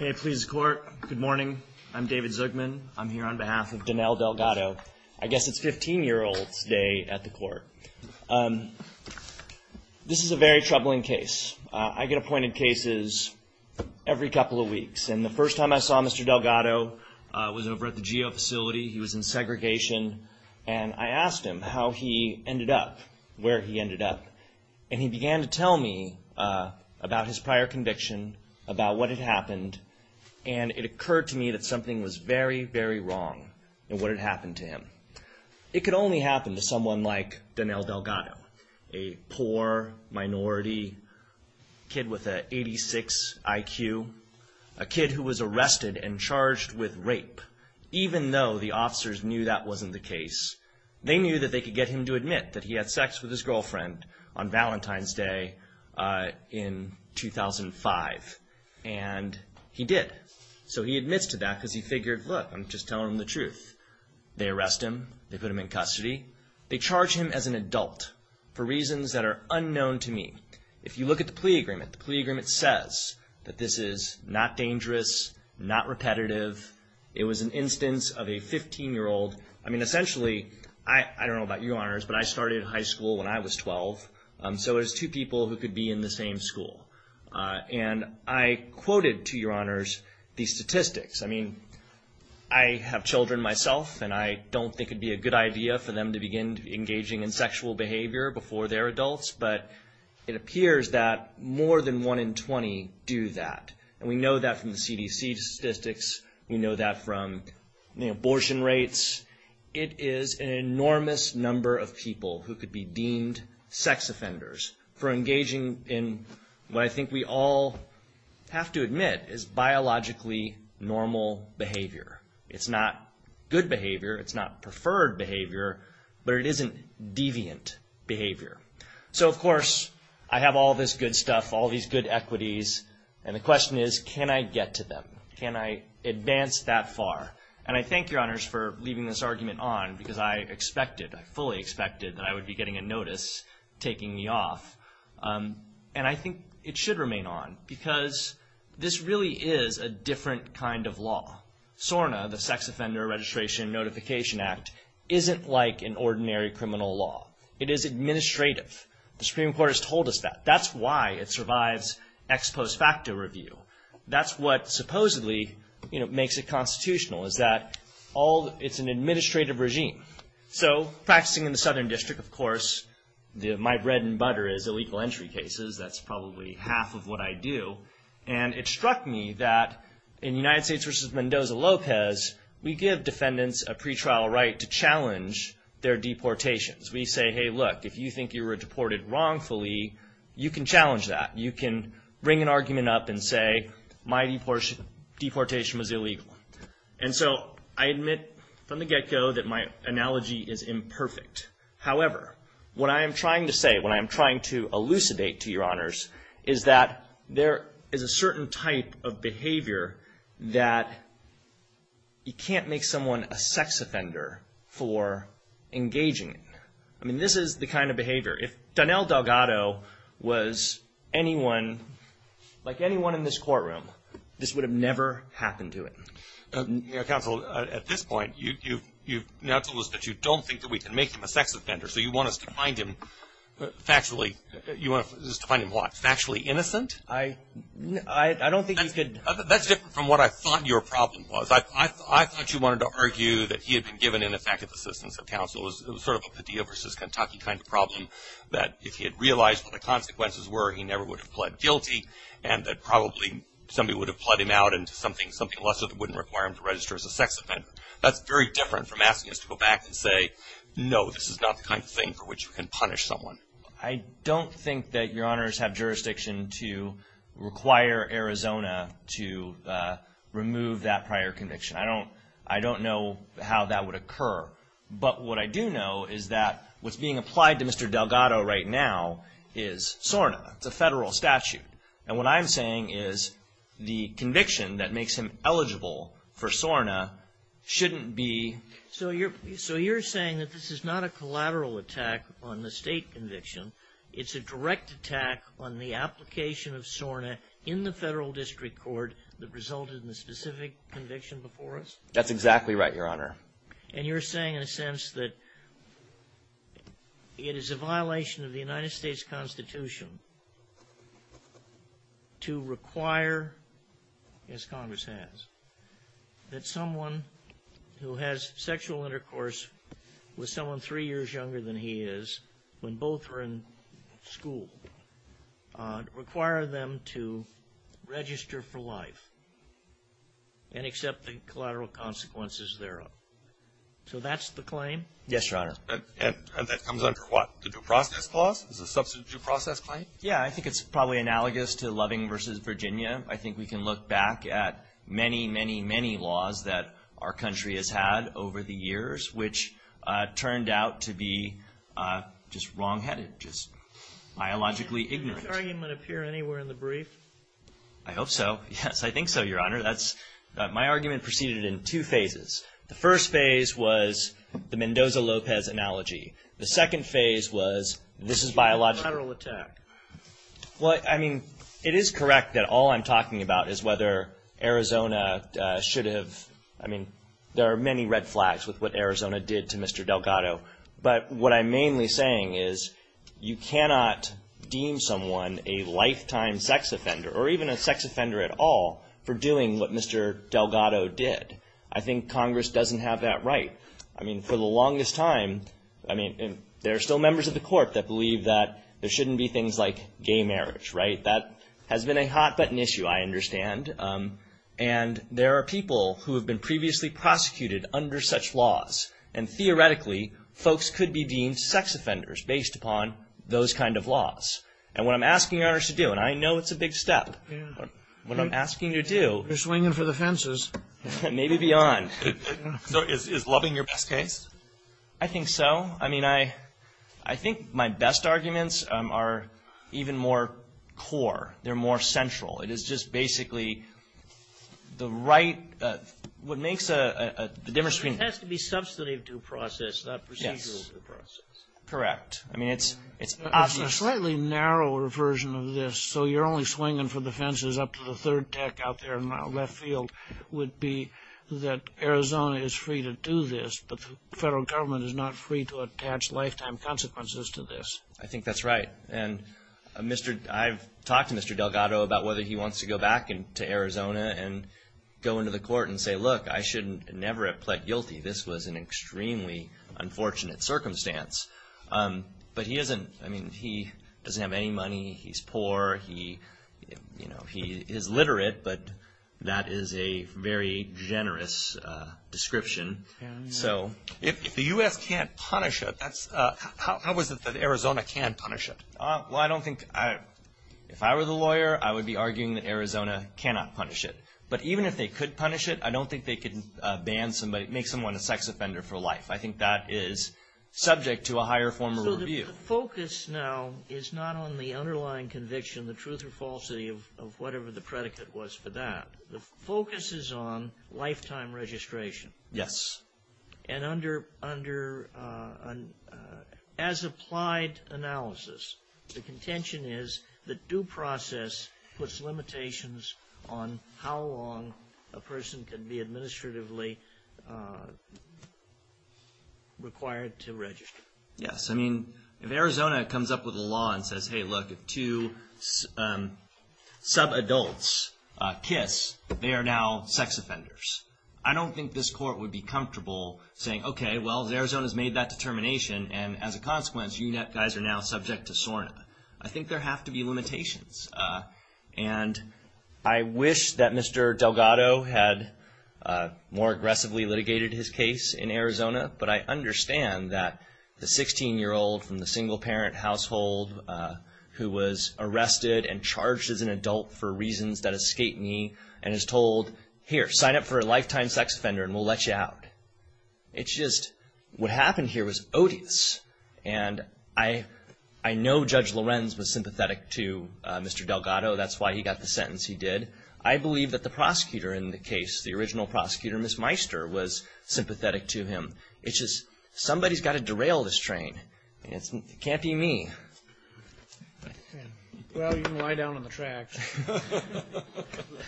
May it please the court, good morning. I'm David Zugman. I'm here on behalf of Donnell Delgado. I guess it's 15-year-old's day at the court. This is a very troubling case. I get appointed cases every couple of weeks, and the first time I saw Mr. Delgado was over at the GEO facility. He was in segregation, and I asked him how he ended up where he ended up, and he began to tell me about his prior conviction, about what had happened, and it occurred to me that something was very, very wrong in what had happened to him. It could only happen to someone like Donnell Delgado, a poor minority kid with an 86 IQ, a kid who was arrested and charged with rape, even though the officers knew that wasn't the case. They knew that they could get him to admit that he had sex with his girlfriend on Valentine's Day in 2005, and he did. So he admits to that because he figured, look, I'm just telling the truth. They arrest him. They put him in custody. They charge him as an adult for reasons that are unknown to me. If you look at the plea agreement, the plea agreement says that this is not dangerous, not repetitive. It was an instance of a 15-year-old. I mean, essentially, I don't know about your honors, but I started high school when I was 12, so it was two people who could be in the same school, and I quoted, to your honors, these statistics. I mean, I have children myself, and I don't think it would be a good idea for them to begin engaging in sexual behavior before they're adults, but it appears that more than one in 20 do that, and we know that from the CDC statistics. We know that from the abortion rates. It is an enormous number of people who could be deemed sex offenders for engaging in what I think we all have to admit is biologically normal behavior. It's not good behavior. It's not preferred behavior, but it isn't deviant behavior. So, of course, I have all this good stuff, all these good equities, and the question is, can I get to them? Can I advance that far? And I thank your honors for leaving this argument on because I expected, I fully expected that I would be getting a notice taking me off, and I think it should remain on because this really is a different kind of law. SORNA, the Sex Offender Registration and Notification Act, isn't like an ordinary criminal law. It is administrative. The Supreme Court has told us that. That's why it survives ex post facto review. That's what supposedly makes it constitutional is that it's an administrative regime. So, practicing in the Southern District, of course, my bread and butter is illegal entry cases. That's probably half of what I do, and it struck me that in United States v. Mendoza-Lopez, we give defendants a pretrial right to challenge their deportations. We say, hey, look, if you think you were deported wrongfully, you can challenge that. You can bring an argument up and say, my deportation was illegal. And so, I admit from the get-go that my analogy is imperfect. However, what I am trying to say, what I am trying to elucidate, to your honors, is that there is a certain type of behavior that you can't make someone a sex offender for engaging. I mean, this is the kind of behavior. If Donnell Delgado was anyone, like anyone in this courtroom, this would have never happened to him. Counsel, at this point, you've now told us that you don't think that we can make him a sex offender. So, you want us to find him factually, you want us to find him what, factually innocent? I don't think you could. That's different from what I thought your problem was. I thought you wanted to argue that he had been given ineffective assistance of counsel. It was sort of a Padilla v. Kentucky kind of problem, that if he had realized what the consequences were, he never would have pled guilty, and that probably somebody would have pled him out into something lesser that wouldn't require him to register as a sex offender. That's very different from asking us to go back and say, no, this is not the kind of thing for which you can punish someone. I don't think that your honors have jurisdiction to require Arizona to remove that prior conviction. I don't know how that would occur. But what I do know is that what's being applied to Mr. Delgado right now is SORNA. It's a federal statute. And what I'm saying is the conviction that makes him eligible for SORNA shouldn't be... So, you're saying that this is not a collateral attack on the state conviction. It's a direct attack on the application of SORNA in the federal district court that resulted in the specific conviction before us? That's exactly right, your honor. And you're saying in a sense that it is a violation of the United States Constitution to require, as Congress has, that someone who has sexual intercourse with someone three years younger than he is, when both are in school, require them to register for life and accept the collateral consequences thereof. So that's the claim? Yes, your honor. And that comes under what? The due process clause? Is it a substitute due process claim? Yeah, I think it's probably analogous to Loving v. Virginia. I think we can look back at many, many, many laws that our country has had over the years, which turned out to be just wrongheaded, just biologically ignorant. Did that argument appear anywhere in the brief? I hope so. Yes, I think so, your honor. My argument proceeded in two phases. The first phase was the Mendoza-Lopez analogy. The second phase was this is biological... A collateral attack. Well, I mean, it is correct that all I'm talking about is whether Arizona should have... I mean, there are many red flags with what Arizona did to Mr. Delgado. But what I'm mainly saying is you cannot deem someone a lifetime sex offender, or even a sex offender at all, for doing what Mr. Delgado did. I think Congress doesn't have that right. I mean, for the longest time, I mean, there are still members of the court that believe that there shouldn't be things like gay marriage, right? That has been a hot-button issue, I understand. And there are people who have been previously prosecuted under such laws. And theoretically, folks could be deemed sex offenders based upon those kind of laws. And what I'm asking you, your honor, to do, and I know it's a big step. What I'm asking you to do... You're swinging for the fences. Maybe beyond. So is loving your best case? I think so. I mean, I think my best arguments are even more core. They're more central. It is just basically the right... It has to be substantive due process, not procedural due process. Correct. I mean, it's obvious. It's a slightly narrower version of this. So you're only swinging for the fences up to the third deck out there in the left field would be that Arizona is free to do this, but the federal government is not free to attach lifetime consequences to this. I think that's right. And I've talked to Mr. Delgado about whether he wants to go back to Arizona and go into the court and say, look, I should never have pled guilty. This was an extremely unfortunate circumstance. But he doesn't have any money. He's poor. He is literate, but that is a very generous description. If the U.S. can't punish it, how is it that Arizona can punish it? Well, I don't think... If I were the lawyer, I would be arguing that Arizona cannot punish it. But even if they could punish it, I don't think they could make someone a sex offender for life. I think that is subject to a higher form of review. So the focus now is not on the underlying conviction, the truth or falsity of whatever the predicate was for that. The focus is on lifetime registration. Yes. And as applied analysis, the contention is that due process puts limitations on how long a person can be administratively required to register. Yes. I mean, if Arizona comes up with a law and says, hey, look, if two sub-adults kiss, they are now sex offenders. I don't think this court would be comfortable saying, okay, well, Arizona has made that determination, and as a consequence, you guys are now subject to SORNA. I think there have to be limitations. And I wish that Mr. Delgado had more aggressively litigated his case in Arizona, but I understand that the 16-year-old from the single-parent household who was arrested and charged as an adult for reasons that escape me and is told, here, sign up for a lifetime sex offender, and we'll let you out. It's just what happened here was odious, and I know Judge Lorenz was sympathetic to Mr. Delgado. That's why he got the sentence he did. I believe that the prosecutor in the case, the original prosecutor, Ms. Meister, was sympathetic to him. It's just somebody's got to derail this train. It can't be me. Well, you can lie down on the track.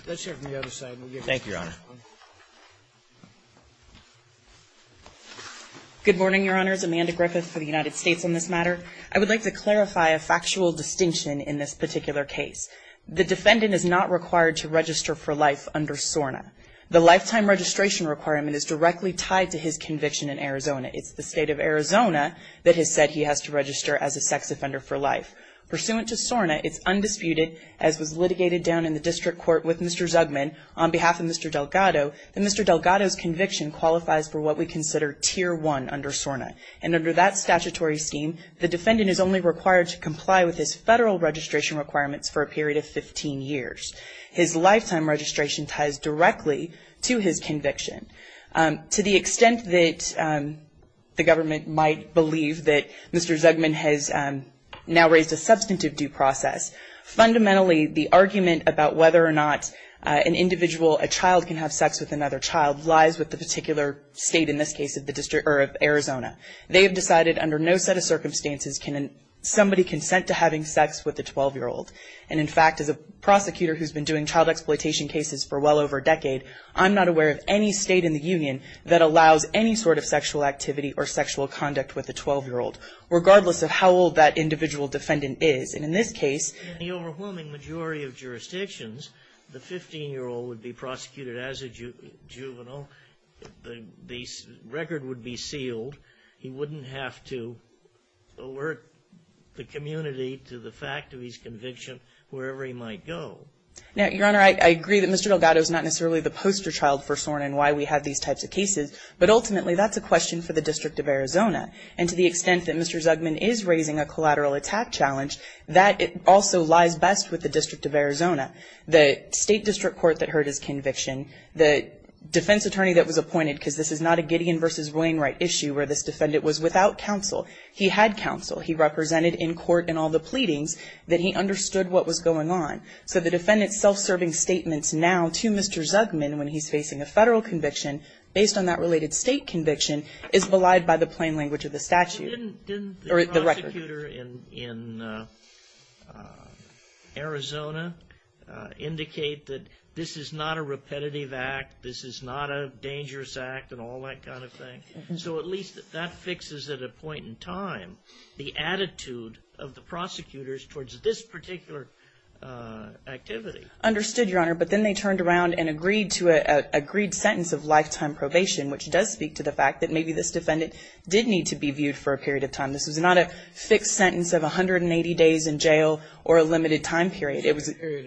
Let's hear from the other side. Thank you, Your Honor. Good morning, Your Honors. Amanda Griffith for the United States on this matter. I would like to clarify a factual distinction in this particular case. The defendant is not required to register for life under SORNA. The lifetime registration requirement is directly tied to his conviction in Arizona. It's the state of Arizona that has said he has to register as a sex offender for life. Pursuant to SORNA, it's undisputed, as was litigated down in the district court with Mr. Zugman on behalf of Mr. Delgado, that Mr. Delgado's conviction qualifies for what we consider Tier 1 under SORNA. And under that statutory scheme, the defendant is only required to comply with his federal registration requirements for a period of 15 years. His lifetime registration ties directly to his conviction. To the extent that the government might believe that Mr. Zugman has now raised a substantive due process, fundamentally the argument about whether or not an individual, a child, can have sex with another child lies with the particular state in this case of Arizona. They have decided under no set of circumstances can somebody consent to having sex with a 12-year-old. And, in fact, as a prosecutor who's been doing child exploitation cases for well over a decade, I'm not aware of any state in the union that allows any sort of sexual activity or sexual conduct with a 12-year-old, regardless of how old that individual defendant is. And in this case… In the overwhelming majority of jurisdictions, the 15-year-old would be prosecuted as a juvenile. The record would be sealed. He wouldn't have to alert the community to the fact of his conviction wherever he might go. Now, Your Honor, I agree that Mr. Delgado is not necessarily the poster child for SORN and why we have these types of cases, but ultimately that's a question for the District of Arizona. And to the extent that Mr. Zugman is raising a collateral attack challenge, that also lies best with the District of Arizona. The state district court that heard his conviction, the defense attorney that was appointed, because this is not a Gideon v. Wainwright issue where this defendant was without counsel. He had counsel. He represented in court in all the pleadings that he understood what was going on. So the defendant's self-serving statements now to Mr. Zugman when he's facing a Federal conviction, based on that related State conviction, is belied by the plain language of the statute. Or the record. Didn't the prosecutor in Arizona indicate that this is not a repetitive act, this is not a dangerous act, and all that kind of thing? The attitude of the prosecutors towards this particular activity. Understood, Your Honor. But then they turned around and agreed to an agreed sentence of lifetime probation, which does speak to the fact that maybe this defendant did need to be viewed for a period of time. This was not a fixed sentence of 180 days in jail or a limited time period. It was a period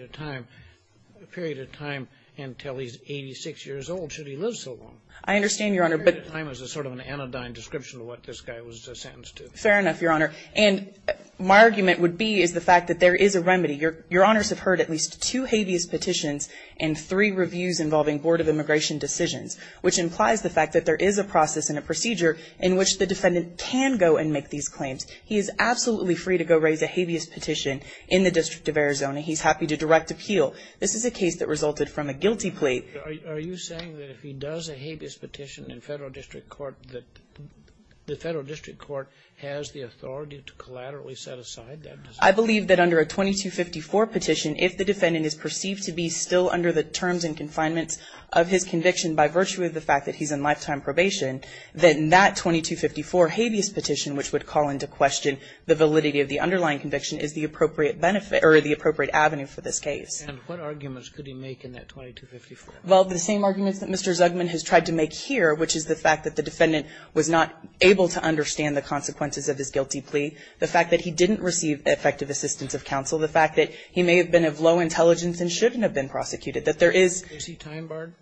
of time until he's 86 years old. Should he live so long? I understand, Your Honor. Period of time is sort of an anodyne description of what this guy was sentenced to. Fair enough, Your Honor. And my argument would be is the fact that there is a remedy. Your Honors have heard at least two habeas petitions and three reviews involving Board of Immigration decisions, which implies the fact that there is a process and a procedure in which the defendant can go and make these claims. He is absolutely free to go raise a habeas petition in the District of Arizona. He's happy to direct appeal. This is a case that resulted from a guilty plea. Are you saying that if he does a habeas petition in federal district court, that the federal district court has the authority to collaterally set aside that decision? I believe that under a 2254 petition, if the defendant is perceived to be still under the terms and confinements of his conviction by virtue of the fact that he's in lifetime probation, then that 2254 habeas petition, which would call into question the validity of the underlying conviction, is the appropriate benefit or the appropriate avenue for this case. And what arguments could he make in that 2254? Well, the same arguments that Mr. Zugman has tried to make here, which is the fact that the defendant was not able to understand the consequences of his guilty plea, the fact that he didn't receive effective assistance of counsel, the fact that he may have been of low intelligence and shouldn't have been prosecuted, that there is. Is he time barred?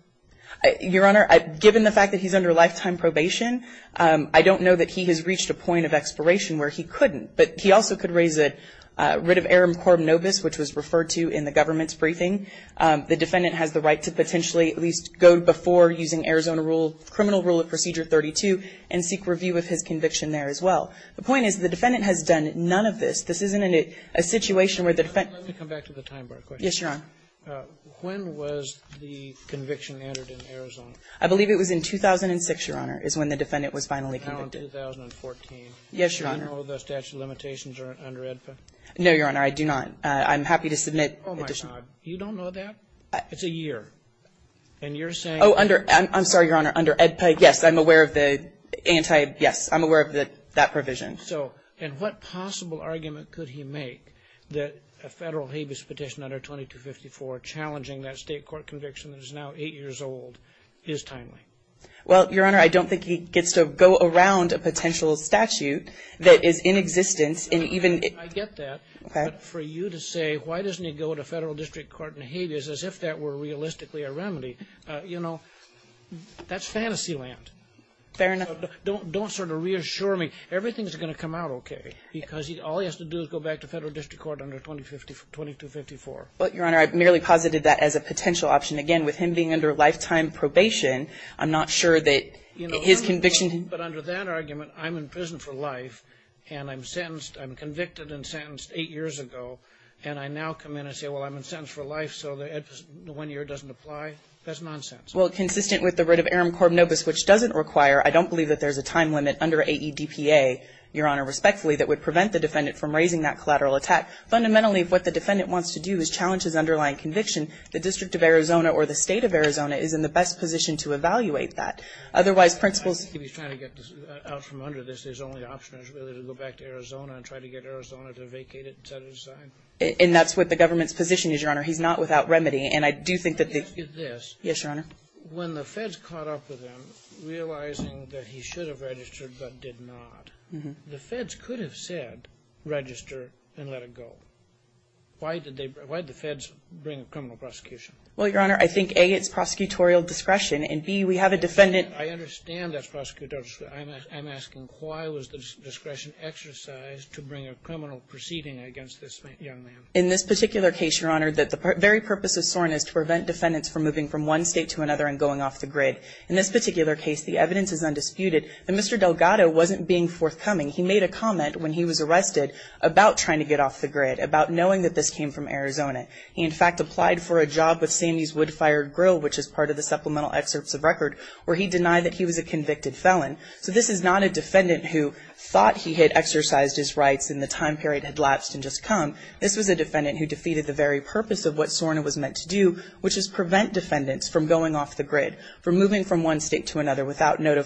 Your Honor, given the fact that he's under lifetime probation, I don't know that he has reached a point of expiration where he couldn't. But he also could raise a writ of arum corum nobis, which was referred to in the government's briefing. The defendant has the right to potentially at least go before using Arizona rule, criminal rule of procedure 32, and seek review of his conviction there as well. The point is the defendant has done none of this. This isn't a situation where the defendant can't. Let me come back to the time bar question. Yes, Your Honor. When was the conviction entered in Arizona? I believe it was in 2006, Your Honor, is when the defendant was finally convicted. Now in 2014. Yes, Your Honor. Do you know the statute of limitations under AEDPA? No, Your Honor. I do not. I'm happy to submit additional. Oh, my God. You don't know that? It's a year. And you're saying. Oh, under. I'm sorry, Your Honor. Under AEDPA, yes. I'm aware of the anti. Yes. I'm aware of that provision. And what possible argument could he make that a Federal habeas petition under 2254 challenging that State court conviction that is now 8 years old is timely? Well, Your Honor, I don't think he gets to go around a potential statute that is in existence and even. I get that. Okay. But for you to say why doesn't he go to Federal district court in habeas as if that were realistically a remedy, you know, that's fantasy land. Fair enough. Don't sort of reassure me. Everything is going to come out okay because all he has to do is go back to Federal district court under 2254. Well, Your Honor, I merely posited that as a potential option. Again, with him being under lifetime probation, I'm not sure that his conviction. But under that argument, I'm in prison for life, and I'm sentenced. I'm convicted and sentenced 8 years ago. And I now come in and say, well, I'm in sentence for life, so the 1-year doesn't apply. That's nonsense. Well, consistent with the writ of arum corb nobis, which doesn't require, I don't believe that there's a time limit under AEDPA, Your Honor, respectfully, that would prevent the defendant from raising that collateral attack. Fundamentally, what the defendant wants to do is challenge his underlying conviction. The District of Arizona or the State of Arizona is in the best position to evaluate that. Otherwise, principles. If he's trying to get out from under this, his only option is really to go back to Arizona and try to get Arizona to vacate it and set it aside? And that's what the government's position is, Your Honor. He's not without remedy. And I do think that the. Let me ask you this. Yes, Your Honor. When the Feds caught up with him, realizing that he should have registered but did not, the Feds could have said register and let it go. Why did they? Why did the Feds bring a criminal prosecution? Well, Your Honor, I think, A, it's prosecutorial discretion, and, B, we have a defendant. I understand that's prosecutorial discretion. I'm asking why was the discretion exercised to bring a criminal proceeding against this young man? In this particular case, Your Honor, the very purpose of SORN is to prevent defendants from moving from one State to another and going off the grid. In this particular case, the evidence is undisputed that Mr. Delgado wasn't being forthcoming. He made a comment when he was arrested about trying to get off the grid. He made a comment about knowing that this came from Arizona. He, in fact, applied for a job with Sandy's Woodfire Grill, which is part of the supplemental excerpts of record, where he denied that he was a convicted felon. So this is not a defendant who thought he had exercised his rights and the time period had lapsed and just come. This was a defendant who defeated the very purpose of what SORN was meant to do, which is prevent defendants from going off the grid, from moving from one State to another without a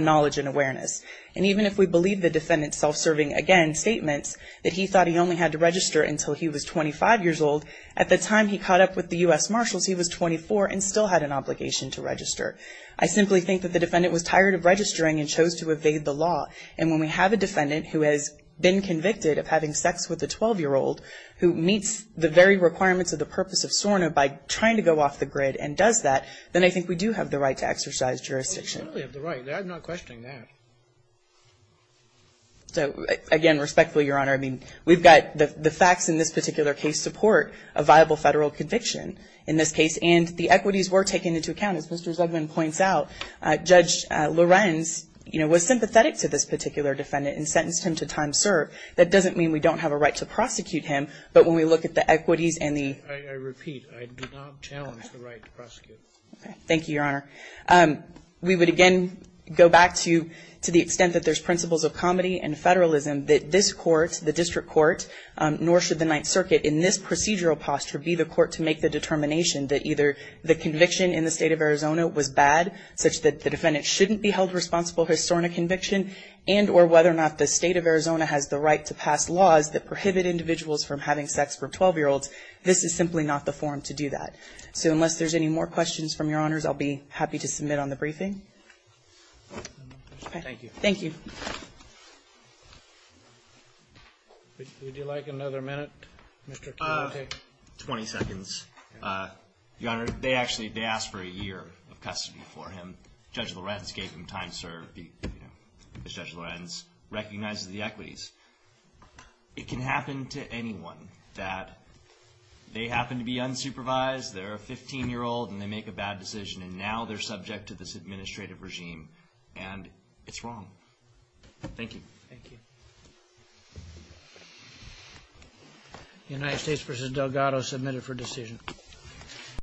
knowledge and awareness. And even if we believe the defendant's self-serving, again, thought he only had to register until he was 25 years old, at the time he caught up with the U.S. Marshals, he was 24 and still had an obligation to register. I simply think that the defendant was tired of registering and chose to evade the law. And when we have a defendant who has been convicted of having sex with a 12-year-old who meets the very requirements of the purpose of SORN by trying to go off the grid and does that, then I think we do have the right to exercise jurisdiction. I certainly have the right. I'm not questioning that. So, again, respectfully, Your Honor, I mean, we've got the facts in this particular case support a viable Federal conviction in this case. And the equities were taken into account. As Mr. Zegman points out, Judge Lorenz, you know, was sympathetic to this particular defendant and sentenced him to time served. That doesn't mean we don't have a right to prosecute him, but when we look at the equities and the ---- I repeat, I do not challenge the right to prosecute. Okay. Thank you, Your Honor. We would, again, go back to the extent that there's principles of comedy and federalism that this court, the district court, nor should the Ninth Circuit in this procedural posture be the court to make the determination that either the conviction in the State of Arizona was bad, such that the defendant shouldn't be held responsible for a SORNA conviction, and or whether or not the State of Arizona has the right to pass laws that prohibit individuals from having sex with 12-year-olds. This is simply not the forum to do that. So unless there's any more questions from Your Honors, I'll be happy to submit on the briefing. Okay. Thank you. Thank you. Would you like another minute, Mr. Keenelty? Twenty seconds. Your Honor, they actually, they asked for a year of custody for him. Judge Lorenz gave him time served. You know, Judge Lorenz recognizes the equities. It can happen to anyone that they happen to be unsupervised, they're a 15-year-old and they make a bad decision, and now they're subject to this administrative regime. And it's wrong. Thank you. Thank you. United States v. Delgado submitted for decision.